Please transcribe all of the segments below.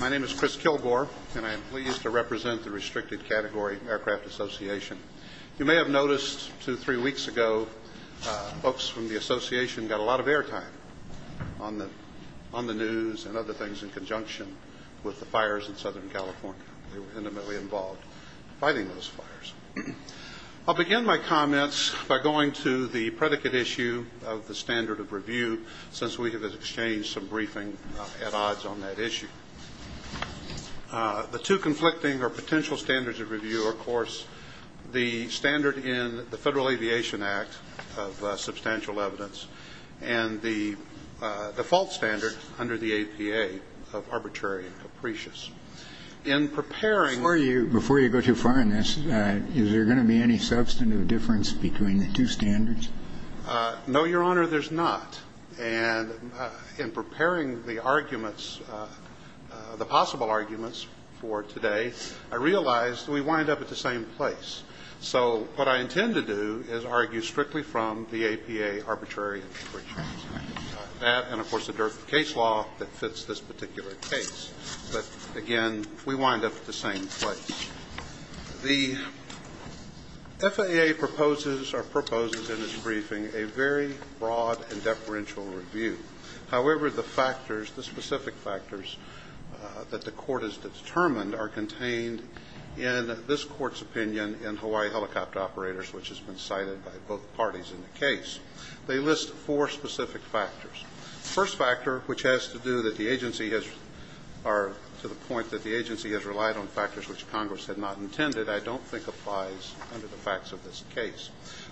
My name is Chris Kilgore, and I am pleased to represent the Restricted Category Aircraft Association. You may have noticed two or three weeks ago folks from the association got a lot of airtime on the news and other things in conjunction with the fires in Southern California. They were intimately involved in fighting those fires. I'll begin my comments by going to the predicate issue of the standard of review since we have exchanged some briefing at odds on that issue. The two conflicting or potential standards of review are, of course, the standard in the Federal Aviation Act of substantial evidence and the default standard under the APA of arbitrary and capricious. In preparing for you... Before you go too far on this, is there going to be any substantive difference between the two standards? No, Your Honor, there's not. And in preparing the arguments, the possible arguments for today, I realized we wind up at the same place. So what I intend to do is argue strictly from the APA arbitrary and capricious. That and, of course, the direct case law that fits this particular case. But, again, we wind up at the same place. The FAA proposes or proposes in its briefing a very broad and deferential review. However, the factors, the specific factors that the Court has determined are contained in this Court's opinion in Hawaii Helicopter Operators, which has been cited by both parties in the case. They list four specific factors. The first factor, which has to do that the agency has relied on factors which Congress had not intended, I don't think applies under the facts of this case.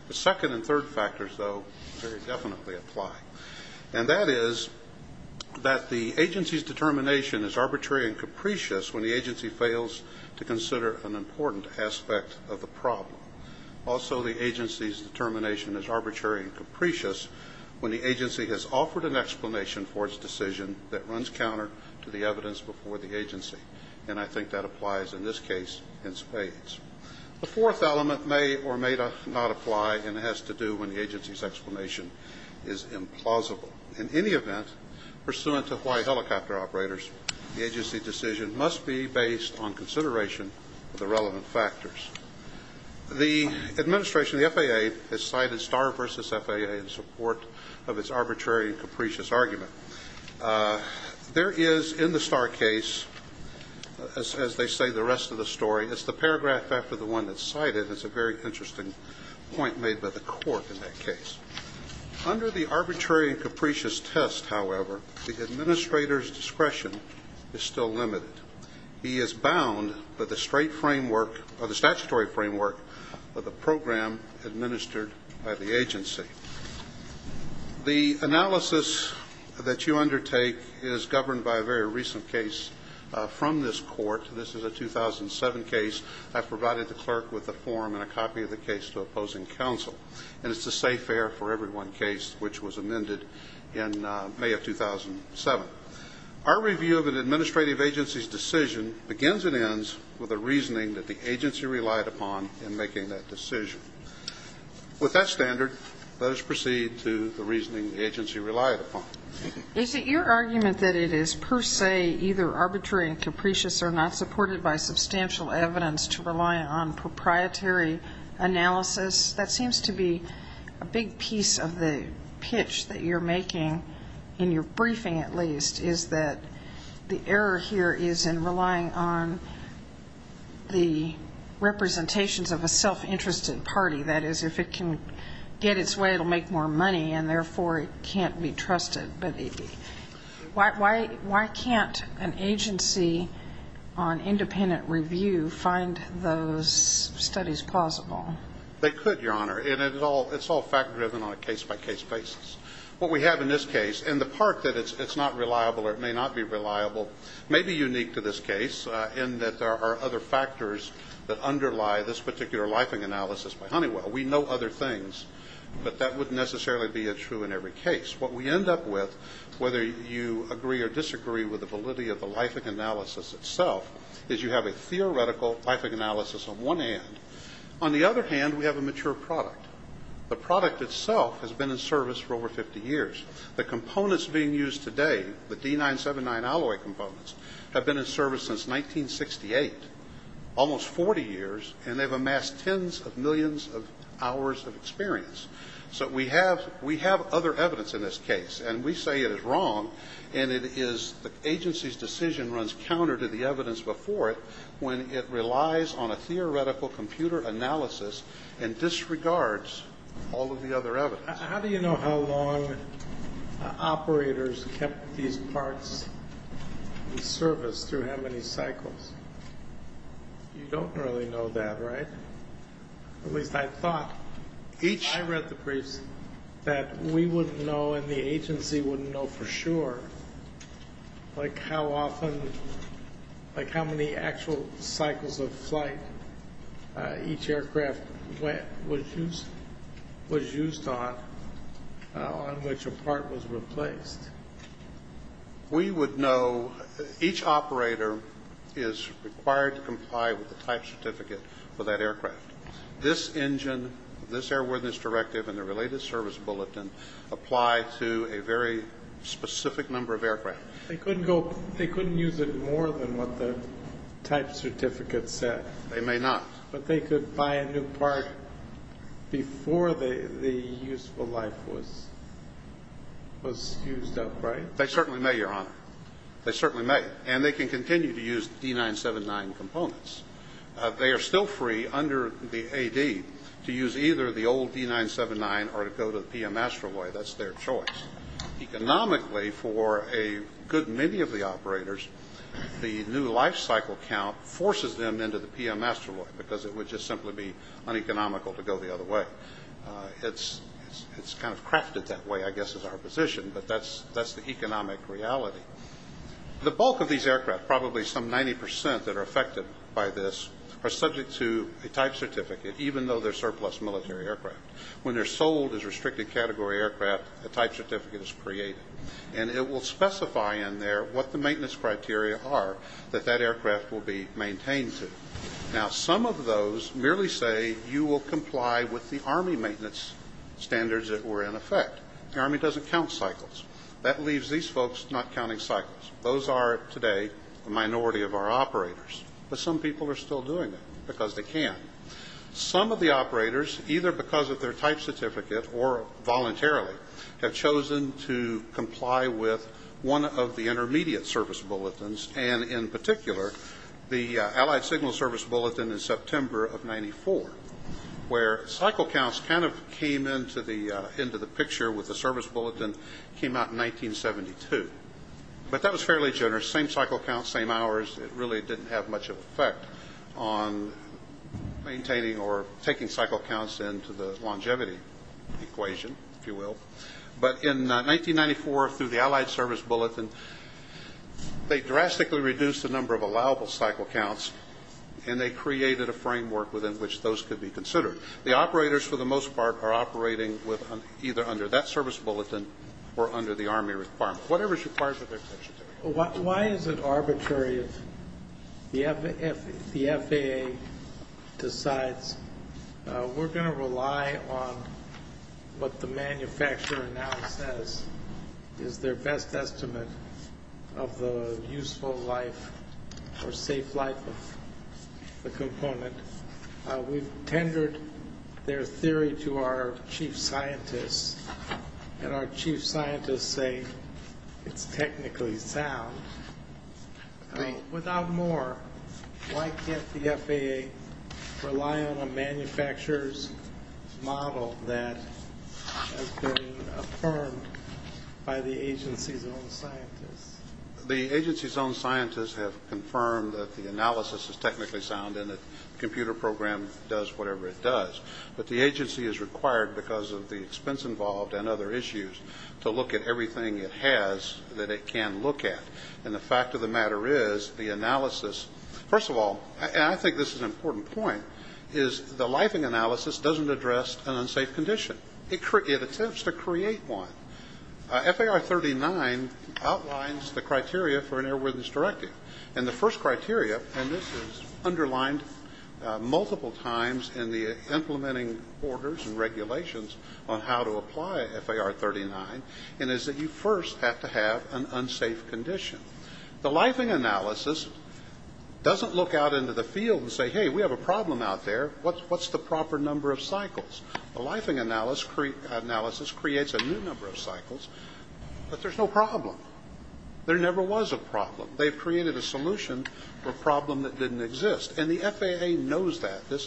The second and third factors, though, very definitely apply. And that is that the agency's determination is arbitrary and capricious when the agency fails to consider an important aspect of the problem. Also the agency's determination is arbitrary and capricious when the agency has offered an explanation for its decision that runs counter to the evidence before the agency. And I think that applies in this case in spades. The fourth element may or may not apply, and it has to do when the agency's explanation is implausible. In any event, pursuant to Hawaii Helicopter Operators, the agency decision must be based on consideration of the relevant factors. The administration, the FAA, has cited Starr v. FAA in support of its arbitrary and capricious argument. There is in the Starr case, as they say the rest of the story, it's the paragraph after the one that's cited that's a very interesting point made by the court in that case. Under the arbitrary and capricious test, however, the administrator's discretion is still limited. He is bound by the straight framework or the statutory framework of the program administered by the agency. The analysis that you undertake is governed by a very recent case from this court. This is a 2007 case. I've provided the clerk with a form and a copy of the case to opposing counsel, and it's a safe air for everyone case which was amended in May of 2007. Our review of an administrative agency's decision begins and ends with a reasoning that the agency relied upon in making that decision. With that standard, let us proceed to the reasoning the agency relied upon. Is it your argument that it is per se either arbitrary and capricious or not supported by substantial evidence to rely on proprietary analysis? That seems to be a big piece of the pitch that you're making, in your briefing at least, is that the error here is in relying on the representations of a self-interested party. That is, if it can get its way, it will make more money, and therefore it can't be trusted. But why can't an agency on independent review find those studies plausible? They could, Your Honor, and it's all fact-driven on a case-by-case basis. What we have in this case, and the part that it's not reliable or it may not be reliable, may be unique to this case in that there are other factors that underlie this particular lifing analysis by Honeywell. We know other things, but that wouldn't necessarily be true in every case. What we end up with, whether you agree or disagree with the validity of the lifing analysis itself, is you have a theoretical lifing analysis on one hand. On the other hand, we have a mature product. The product itself has been in service for over 50 years. The components being used today, the D979 alloy components, have been in service since 1968, almost 40 years, and they've amassed tens of millions of hours of experience. So we have other evidence in this case, and we say it is wrong, and it is the agency's decision runs counter to the evidence before it when it relies on a theoretical computer analysis and disregards all of the other evidence. How do you know how long operators kept these parts in service through how many cycles? You don't really know that, right? At least I thought. I read the briefs that we wouldn't know and the agency wouldn't know for sure, like how often, like how many actual cycles of flight each aircraft was used on on which a part was replaced. We would know each operator is required to comply with the type certificate for that aircraft. This engine, this airworthiness directive, and the related service bulletin apply to a very specific number of aircraft. They couldn't use it more than what the type certificate said. They may not. But they could buy a new part before the useful life was used up, right? They certainly may, Your Honor. They certainly may, and they can continue to use the D979 components. They are still free under the AD to use either the old D979 or to go to the PM Astroloy. That's their choice. Economically, for a good many of the operators, the new life cycle count forces them into the PM Astroloy because it would just simply be uneconomical to go the other way. It's kind of crafted that way, I guess, is our position, but that's the economic reality. The bulk of these aircraft, probably some 90 percent that are affected by this, are subject to a type certificate even though they're surplus military aircraft. When they're sold as restricted category aircraft, a type certificate is created, and it will specify in there what the maintenance criteria are that that aircraft will be maintained to. Now, some of those merely say you will comply with the Army maintenance standards that were in effect. The Army doesn't count cycles. That leaves these folks not counting cycles. Those are, today, a minority of our operators. But some people are still doing it because they can. Some of the operators, either because of their type certificate or voluntarily, have chosen to comply with one of the intermediate service bulletins, and in particular the Allied Signal Service Bulletin in September of 1994, where cycle counts kind of came into the picture with the service bulletin came out in 1972. But that was fairly generous, same cycle count, same hours. It really didn't have much of an effect on maintaining or taking cycle counts into the longevity equation, if you will. But in 1994, through the Allied Service Bulletin, they drastically reduced the number of allowable cycle counts, and they created a framework within which those could be considered. The operators, for the most part, are operating either under that service bulletin or under the Army requirement. Why is it arbitrary if the FAA decides we're going to rely on what the manufacturer now says is their best estimate of the useful life or safe life of the component? We've tendered their theory to our chief scientists, and our chief scientists say it's technically sound. Without more, why can't the FAA rely on a manufacturer's model that has been affirmed by the agency's own scientists? The agency's own scientists have confirmed that the analysis is technically sound and that the computer program does whatever it does. But the agency is required, because of the expense involved and other issues, to look at everything it has that it can look at. And the fact of the matter is the analysis, first of all, and I think this is an important point, is the lifing analysis doesn't address an unsafe condition. It attempts to create one. FAR 39 outlines the criteria for an airworthiness directive. And the first criteria, and this is underlined multiple times in the implementing orders and regulations on how to apply FAR 39, is that you first have to have an unsafe condition. The lifing analysis doesn't look out into the field and say, hey, we have a problem out there. What's the proper number of cycles? The lifing analysis creates a new number of cycles, but there's no problem. There never was a problem. They've created a solution for a problem that didn't exist. And the FAA knows that. This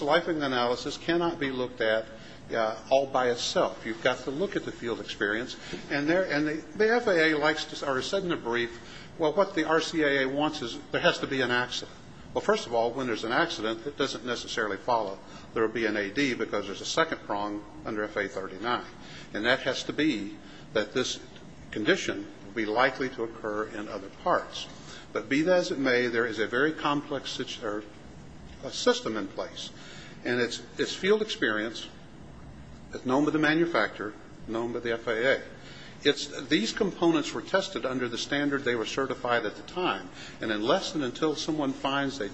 lifing analysis cannot be looked at all by itself. You've got to look at the field experience. And the FAA likes to, or has said in a brief, well, what the RCAA wants is there has to be an accident. Well, first of all, when there's an accident, it doesn't necessarily follow. There will be an AD because there's a second prong under FAR 39. And that has to be that this condition will be likely to occur in other parts. But be that as it may, there is a very complex system in place. And it's field experience. It's known by the manufacturer, known by the FAA. These components were tested under the standard they were certified at the time. And unless and until someone finds they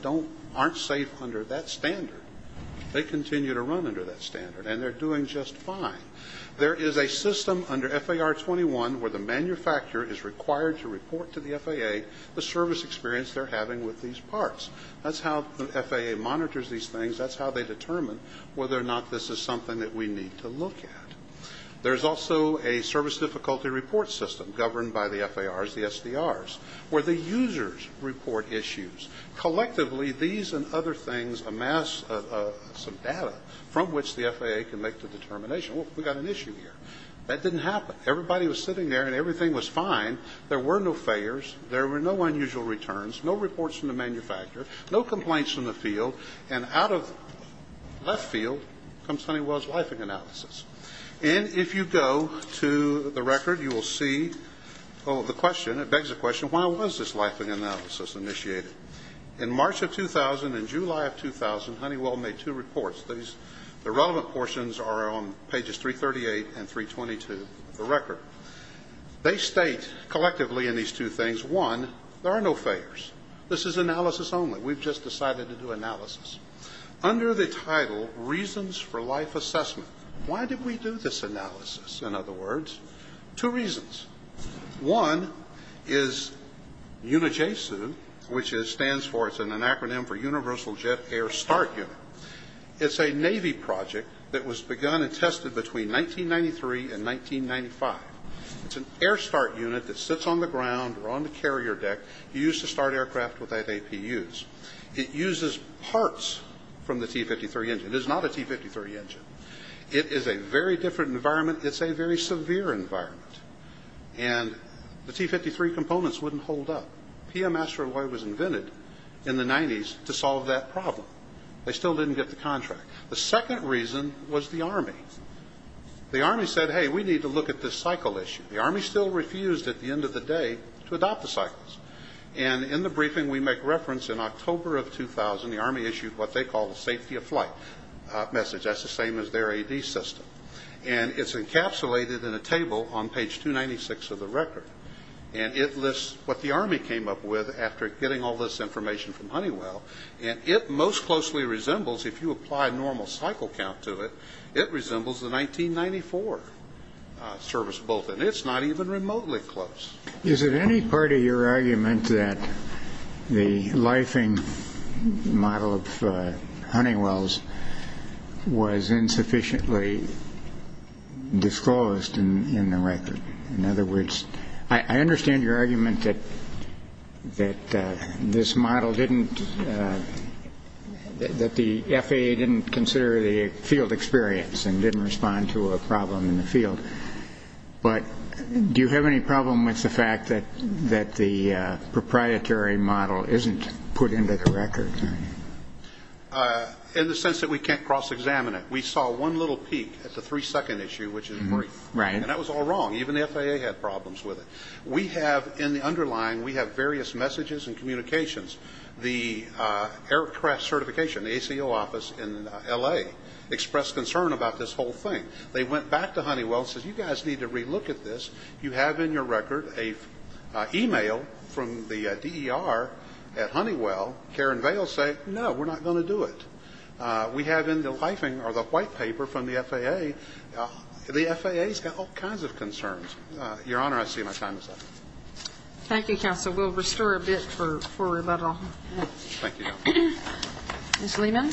aren't safe under that standard, they continue to run under that standard. And they're doing just fine. There is a system under FAR 21 where the manufacturer is required to report to the FAA the service experience they're having with these parts. That's how the FAA monitors these things. That's how they determine whether or not this is something that we need to look at. There's also a service difficulty report system governed by the FARs, the SDRs, where the users report issues. Collectively, these and other things amass some data from which the FAA can make the determination, well, we've got an issue here. That didn't happen. Everybody was sitting there and everything was fine. There were no failures. There were no unusual returns. No reports from the manufacturer. No complaints from the field. And out of left field comes Honeywell's lifing analysis. So why was this lifing analysis initiated? In March of 2000 and July of 2000, Honeywell made two reports. The relevant portions are on pages 338 and 322 of the record. They state collectively in these two things, one, there are no failures. This is analysis only. We've just decided to do analysis. Under the title, reasons for life assessment, why did we do this analysis? In other words, two reasons. One is UNIJESU, which stands for, it's an acronym for Universal Jet Air Start Unit. It's a Navy project that was begun and tested between 1993 and 1995. It's an air start unit that sits on the ground or on the carrier deck used to start aircraft without APUs. It uses parts from the T-53 engine. It is not a T-53 engine. It is a very different environment. It's a very severe environment. And the T-53 components wouldn't hold up. PM Asteroid was invented in the 90s to solve that problem. They still didn't get the contract. The second reason was the Army. The Army said, hey, we need to look at this cycle issue. The Army still refused at the end of the day to adopt the cycles. And in the briefing we make reference in October of 2000, the Army issued what they call the safety of flight message. That's the same as their AD system. And it's encapsulated in a table on page 296 of the record. And it lists what the Army came up with after getting all this information from Honeywell. And it most closely resembles, if you apply normal cycle count to it, it resembles the 1994 service bulletin. It's not even remotely close. Is it any part of your argument that the lifing model of Honeywell's was insufficiently disclosed in the record? In other words, I understand your argument that this model didn't, that the FAA didn't consider the field experience and didn't respond to a problem in the field. But do you have any problem with the fact that the proprietary model isn't put into the record? In the sense that we can't cross-examine it. We saw one little peak at the three-second issue, which is worth. Right. And that was all wrong. Even the FAA had problems with it. We have, in the underlying, we have various messages and communications. The aircraft certification, the ACO office in L.A. expressed concern about this whole thing. They went back to Honeywell and said, you guys need to re-look at this. You have in your record an e-mail from the DER at Honeywell. Karen Vail said, no, we're not going to do it. We have in the lifing, or the white paper from the FAA, the FAA's got all kinds of concerns. Your Honor, I see my time is up. Thank you, Counsel. Thank you, Your Honor. Ms. Lehman.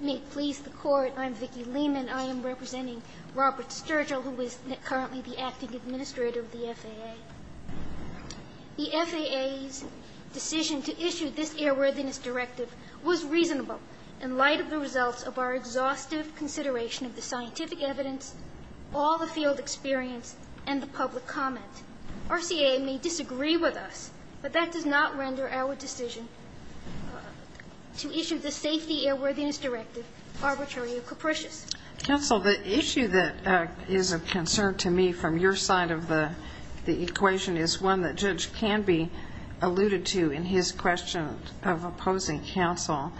May it please the Court, I'm Vicki Lehman. I am representing Robert Sturgill, who is currently the acting administrator of the FAA. The FAA's decision to issue this airworthiness directive was reasonable in light of the results of our exhaustive consideration of the scientific evidence, all the field experience, and the public comment. RCA may disagree with us, but that does not render our decision to issue the safety airworthiness directive arbitrary or capricious. Counsel, the issue that is of concern to me from your side of the equation is one that Judge Canby alluded to in his question of opposing counsel.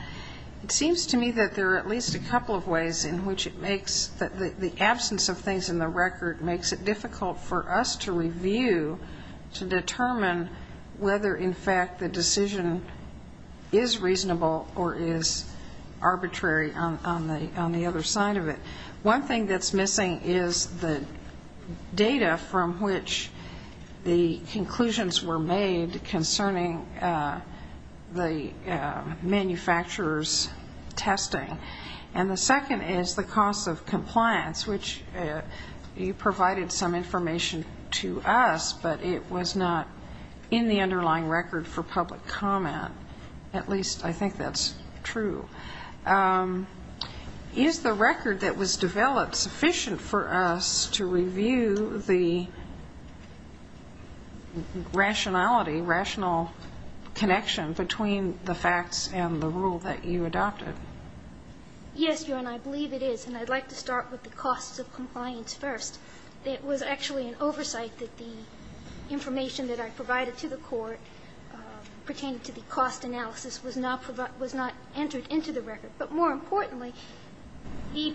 It seems to me that there are at least a couple of ways in which it makes the absence of things in the record makes it difficult for us to review to determine whether, in fact, the decision is reasonable or is arbitrary on the other side of it. One thing that's missing is the data from which the conclusions were made concerning the manufacturer's testing. And the second is the cost of compliance, which you provided some information to us, but it was not in the underlying record for public comment. At least I think that's true. Is the record that was developed sufficient for us to review the rationality, rational connection between the facts and the rule that you adopted? Yes, your Honor, I believe it is. And I'd like to start with the cost of compliance first. It was actually an oversight that the information that I provided to the Court pertaining to the cost analysis was not entered into the record. But more importantly, in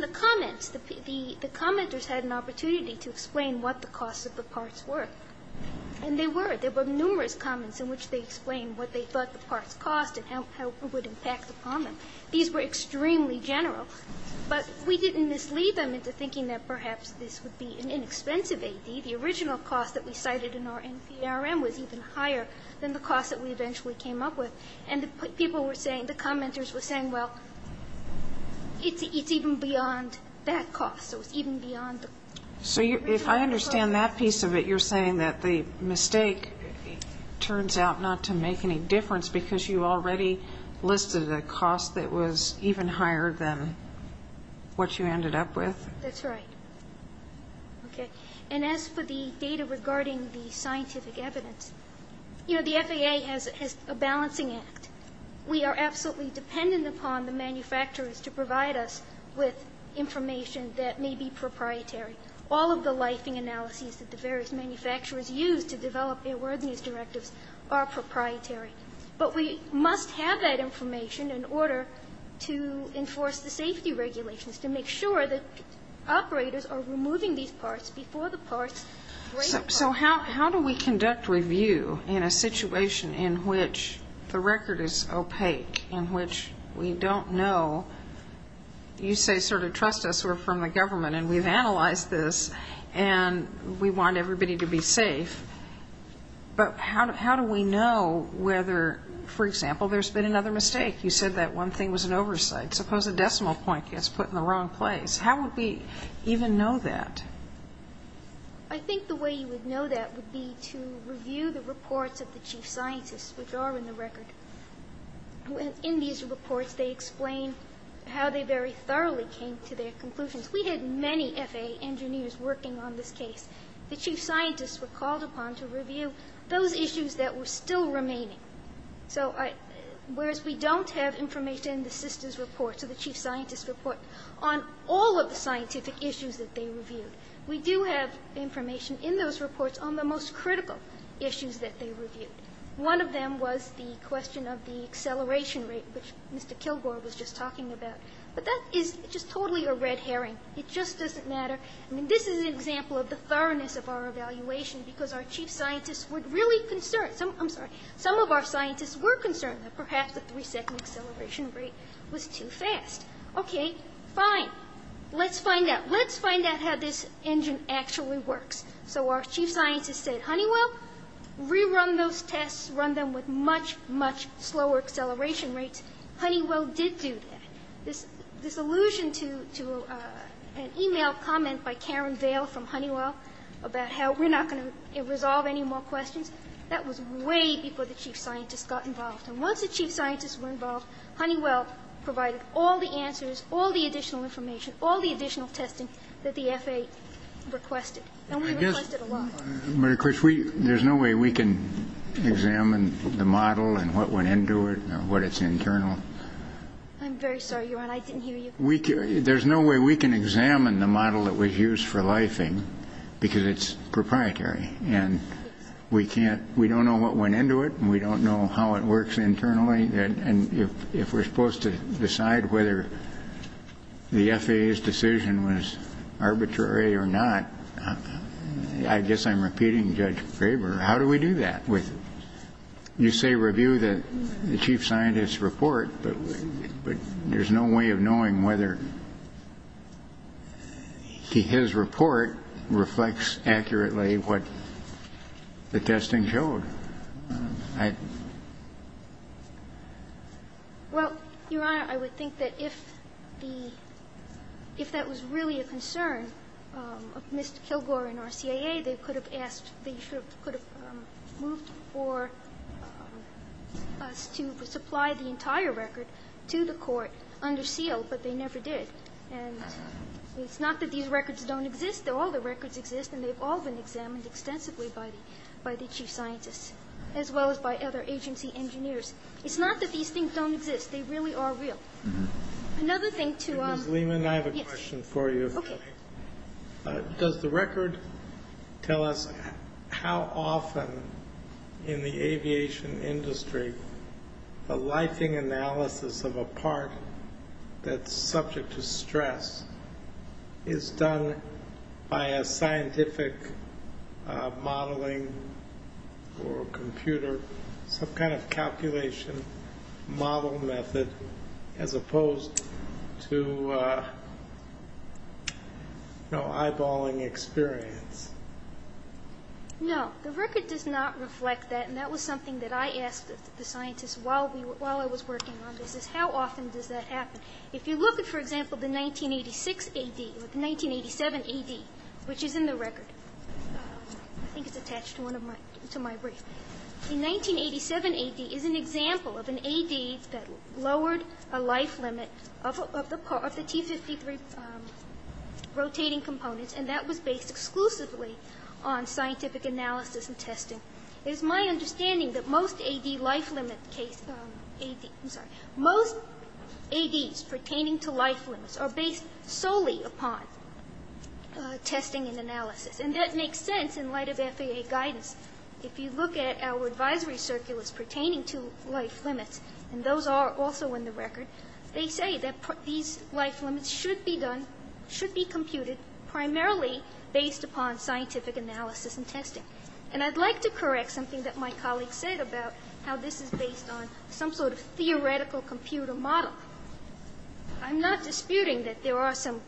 the comments, the commenters had an opportunity to explain what the costs of the parts were. And they were. There were numerous comments in which they explained what they thought the parts cost and how it would impact upon them. These were extremely general. But we didn't mislead them into thinking that perhaps this would be an inexpensive AD. The original cost that we cited in our NPRM was even higher than the cost that we eventually came up with. And the people were saying, the commenters were saying, well, it's even beyond that cost. So it's even beyond the original cost. So if I understand that piece of it, you're saying that the mistake turns out not to make any difference because you already listed a cost that was even higher than what you ended up with? That's right. Okay. And as for the data regarding the scientific evidence, you know, the FAA has a balancing act. We are absolutely dependent upon the manufacturers to provide us with information that may be proprietary. All of the lifing analyses that the various manufacturers use to develop their directives are proprietary. But we must have that information in order to enforce the safety regulations, to make sure that operators are removing these parts before the parts break apart. So how do we conduct review in a situation in which the record is opaque, in which we don't know? You say sort of trust us, we're from the government, and we've analyzed this, and we want everybody to be safe. But how do we know whether, for example, there's been another mistake? You said that one thing was an oversight. Suppose a decimal point gets put in the wrong place. How would we even know that? I think the way you would know that would be to review the reports of the chief scientists, which are in the record. In these reports, they explain how they very thoroughly came to their conclusions. We had many FAA engineers working on this case. The chief scientists were called upon to review those issues that were still remaining. So whereas we don't have information in the system's report, so the chief scientists report on all of the scientific issues that they reviewed, we do have information in those reports on the most critical issues that they reviewed. One of them was the question of the acceleration rate, which Mr. Kilgore was just talking about. But that is just totally a red herring. It just doesn't matter. I mean, this is an example of the thoroughness of our evaluation because our chief scientists were really concerned. I'm sorry. Some of our scientists were concerned that perhaps the three-second acceleration rate was too fast. Okay, fine. Let's find out. Let's find out how this engine actually works. So our chief scientists said, Honeywell, rerun those tests. Run them with much, much slower acceleration rates. Honeywell did do that. This allusion to an e-mail comment by Karen Vail from Honeywell about how we're not going to resolve any more questions, that was way before the chief scientists got involved. And once the chief scientists were involved, Honeywell provided all the answers, all the additional information, all the additional testing that the FAA requested. And we requested a lot. But, of course, there's no way we can examine the model and what went into it, what it's internal. I'm very sorry, Your Honor. I didn't hear you. There's no way we can examine the model that was used for lifing because it's proprietary. And we don't know what went into it, and we don't know how it works internally. And if we're supposed to decide whether the FAA's decision was arbitrary or not, I guess I'm repeating Judge Graber, how do we do that? You say review the chief scientist's report, but there's no way of knowing whether his report reflects accurately what the testing showed. Well, Your Honor, I would think that if that was really a concern of Mr. Kilgore and our CIA, they could have asked, they could have moved for us to supply the entire record to the court under seal, but they never did. And it's not that these records don't exist. All the records exist, and they've all been examined extensively by the chief scientists, as well as by other agency engineers. It's not that these things don't exist. They really are real. Another thing to ---- Ms. Lehman, I have a question for you. Okay. Does the record tell us how often in the aviation industry a lifing analysis of a part that's subject to stress is done by a scientific modeling or computer, some kind of calculation model method as opposed to eyeballing experience? No, the record does not reflect that. And that was something that I asked the scientists while I was working on this, is how often does that happen? If you look at, for example, the 1986 AD or the 1987 AD, which is in the record. I think it's attached to my brief. The 1987 AD is an example of an AD that lowered a life limit of the T53 rotating components, and that was based exclusively on scientific analysis and testing. It is my understanding that most AD life limit cases ---- I'm sorry. Most ADs pertaining to life limits are based solely upon testing and analysis. And that makes sense in light of FAA guidance. If you look at our advisory circulars pertaining to life limits, and those are also in the record, they say that these life limits should be computed primarily based upon scientific analysis and testing. And I'd like to correct something that my colleague said about how this is based on some sort of theoretical computer model. I'm not disputing that there are some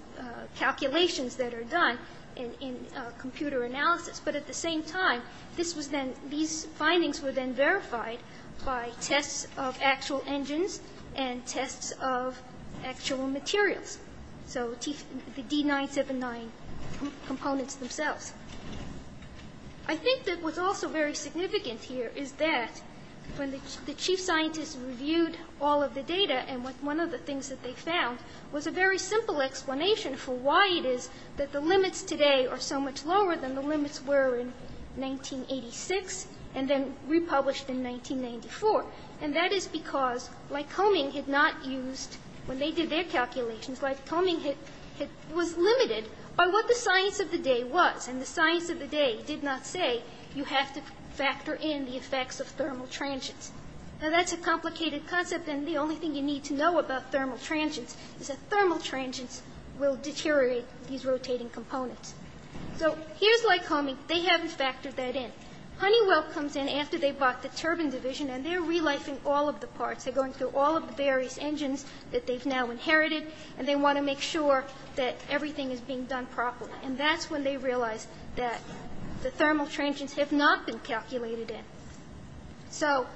calculations that are done in computer analysis, but at the same time, these findings were then verified by tests of actual engines and tests of actual materials, so the D979 components themselves. I think that what's also very significant here is that when the chief scientists reviewed all of the data, and one of the things that they found was a very simple explanation for why it is that the limits today are so much lower than the limits were in 1986 and then republished in 1994. And that is because Lycoming had not used, when they did their calculations, Lycoming was limited by what the science of the day was. And the science of the day did not say you have to factor in the effects of thermal transients. Now, that's a complicated concept, and the only thing you need to know about thermal transients is that thermal transients will deteriorate these rotating components. So here's Lycoming. They haven't factored that in. Honeywell comes in after they bought the turbine division, and they're relifing all of the parts. They're going through all of the various engines that they've now inherited, and they want to make sure that everything is being done properly. And that's when they realize that the thermal transients have not been calculated in. So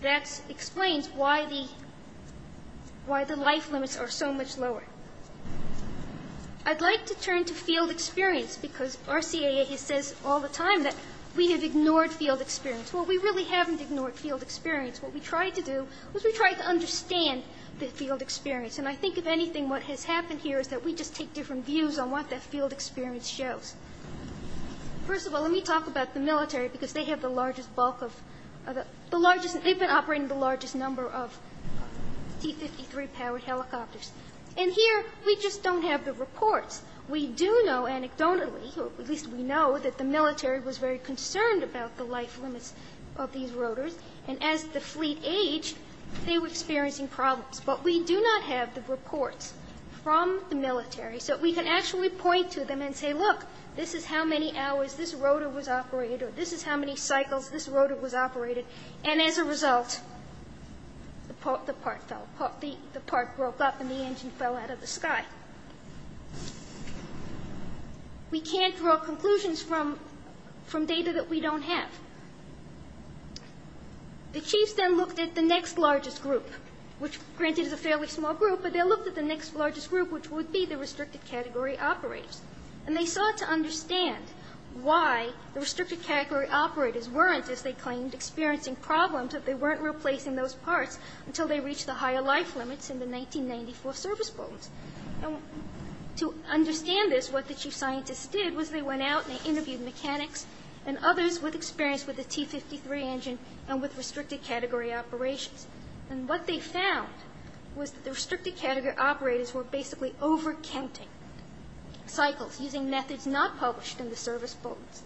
that explains why the life limits are so much lower. I'd like to turn to field experience because RCAA says all the time that we have ignored field experience. Well, we really haven't ignored field experience. What we tried to do was we tried to understand the field experience. And I think, if anything, what has happened here is that we just take different views on what that field experience shows. First of all, let me talk about the military because they have the largest bulk of the largest They've been operating the largest number of T53-powered helicopters. And here we just don't have the reports. We do know anecdotally, or at least we know, that the military was very concerned about the life limits of these rotors. And as the fleet aged, they were experiencing problems. But we do not have the reports from the military. So we can actually point to them and say, look, this is how many hours this rotor was operated, or this is how many cycles this rotor was operated. And as a result, the part fell. The part broke up and the engine fell out of the sky. We can't draw conclusions from data that we don't have. The chiefs then looked at the next largest group, which, granted, is a fairly small group, but they looked at the next largest group, which would be the restricted category operators. And they sought to understand why the restricted category operators weren't, as they claimed, experiencing problems if they weren't replacing those parts until they reached the higher life limits in the 1994 service boats. And to understand this, what the chief scientists did was they went out and they interviewed mechanics and others with experience with the T53 engine and with restricted category operations. And what they found was that the restricted category operators were basically over-counting cycles using methods not published in the service boats.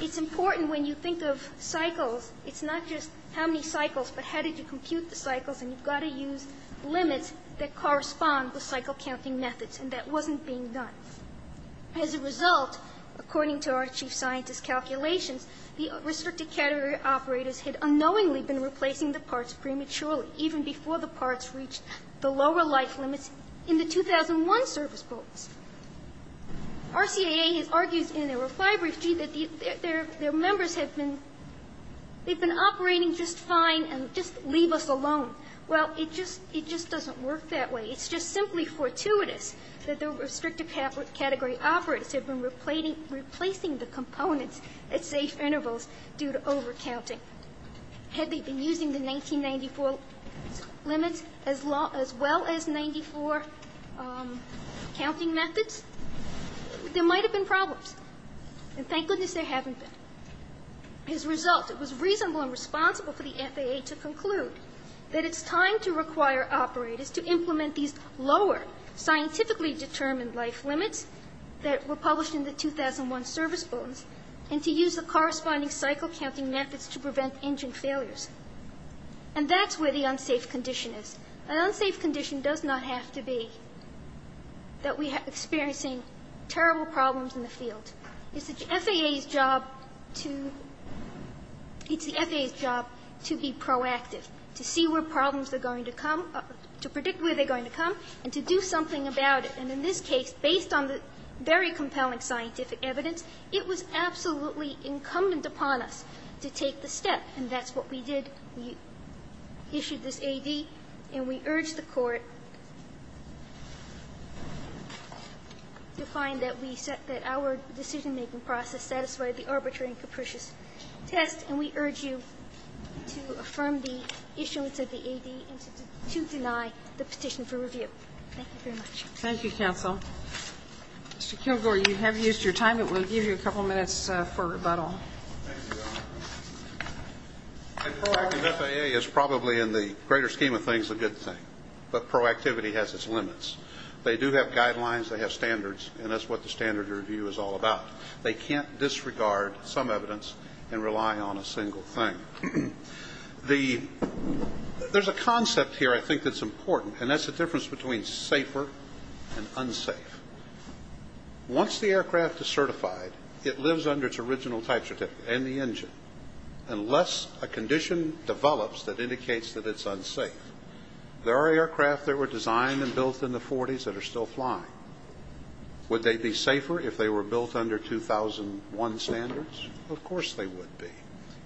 It's important when you think of cycles, it's not just how many cycles, but how did you compute the cycles, and you've got to use limits that correspond with cycle-counting methods, and that wasn't being done. The restricted category operators had unknowingly been replacing the parts prematurely, even before the parts reached the lower life limits in the 2001 service boats. RCIA has argued in their reply brief, gee, that their members have been operating just fine and just leave us alone. Well, it just doesn't work that way. It's just simply fortuitous that the restricted category operators have been replacing the components at safe intervals due to over-counting. Had they been using the 1994 limits as well as 94 counting methods, there might have been problems. And thank goodness there haven't been. As a result, it was reasonable and responsible for the FAA to conclude that it's time to require operators to implement these lower, scientifically determined life limits that were published in the 2001 service boats and to use the corresponding cycle-counting methods to prevent engine failures. And that's where the unsafe condition is. An unsafe condition does not have to be that we are experiencing terrible problems in the field. It's the FAA's job to be proactive, to see where problems are going to come, to predict where they're going to come, and to do something about it. And in this case, based on the very compelling scientific evidence, it was absolutely incumbent upon us to take the step. And that's what we did. We issued this A.D. and we urged the Court to find that we set that our decision-making process satisfied the arbitrary and capricious test, and we urge you to affirm the issuance of the A.D. and to deny the petition for review. Thank you very much. Thank you, counsel. Mr. Kilgore, you have used your time. It will give you a couple minutes for rebuttal. Thank you, Your Honor. The FAA is probably, in the greater scheme of things, a good thing. But proactivity has its limits. They do have guidelines. They have standards. And that's what the standard review is all about. They can't disregard some evidence and rely on a single thing. There's a concept here I think that's important, and that's the difference between safer and unsafe. Once the aircraft is certified, it lives under its original type certificate and the engine, unless a condition develops that indicates that it's unsafe. There are aircraft that were designed and built in the 40s that are still flying. Would they be safer if they were built under 2001 standards? Of course they would be.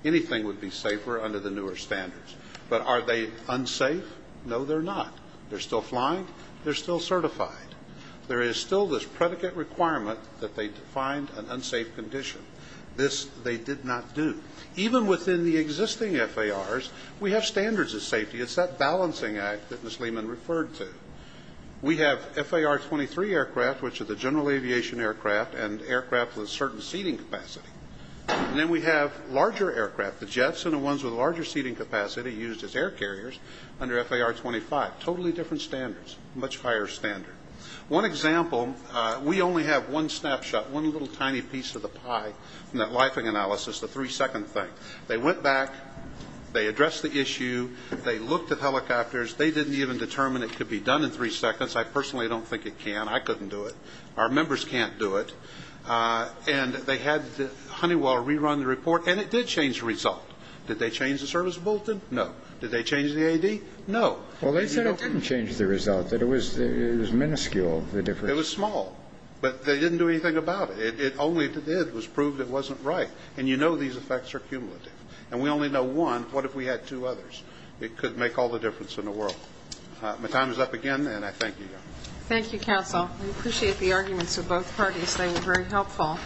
Anything would be safer under the newer standards. But are they unsafe? No, they're not. They're still flying. They're still certified. There is still this predicate requirement that they find an unsafe condition. This they did not do. Even within the existing FARs, we have standards of safety. It's that balancing act that Ms. Lehman referred to. We have FAR 23 aircraft, which are the general aviation aircraft, and aircraft with a certain seating capacity. Then we have larger aircraft, the jets and the ones with larger seating capacity used as air carriers under FAR 25. Totally different standards. Much higher standard. One example, we only have one snapshot, one little tiny piece of the pie in that lifing analysis, the three-second thing. They went back. They addressed the issue. They looked at helicopters. They didn't even determine it could be done in three seconds. I personally don't think it can. I couldn't do it. Our members can't do it. And they had Honeywell rerun the report, and it did change the result. Did they change the service bulletin? No. Did they change the AD? No. Well, they said it didn't change the result, that it was minuscule, the difference. It was small. But they didn't do anything about it. It only did was prove it wasn't right. And you know these effects are cumulative. And we only know one. What if we had two others? It could make all the difference in the world. My time is up again, and I thank you. Thank you, counsel. We appreciate the arguments of both parties. They were very helpful.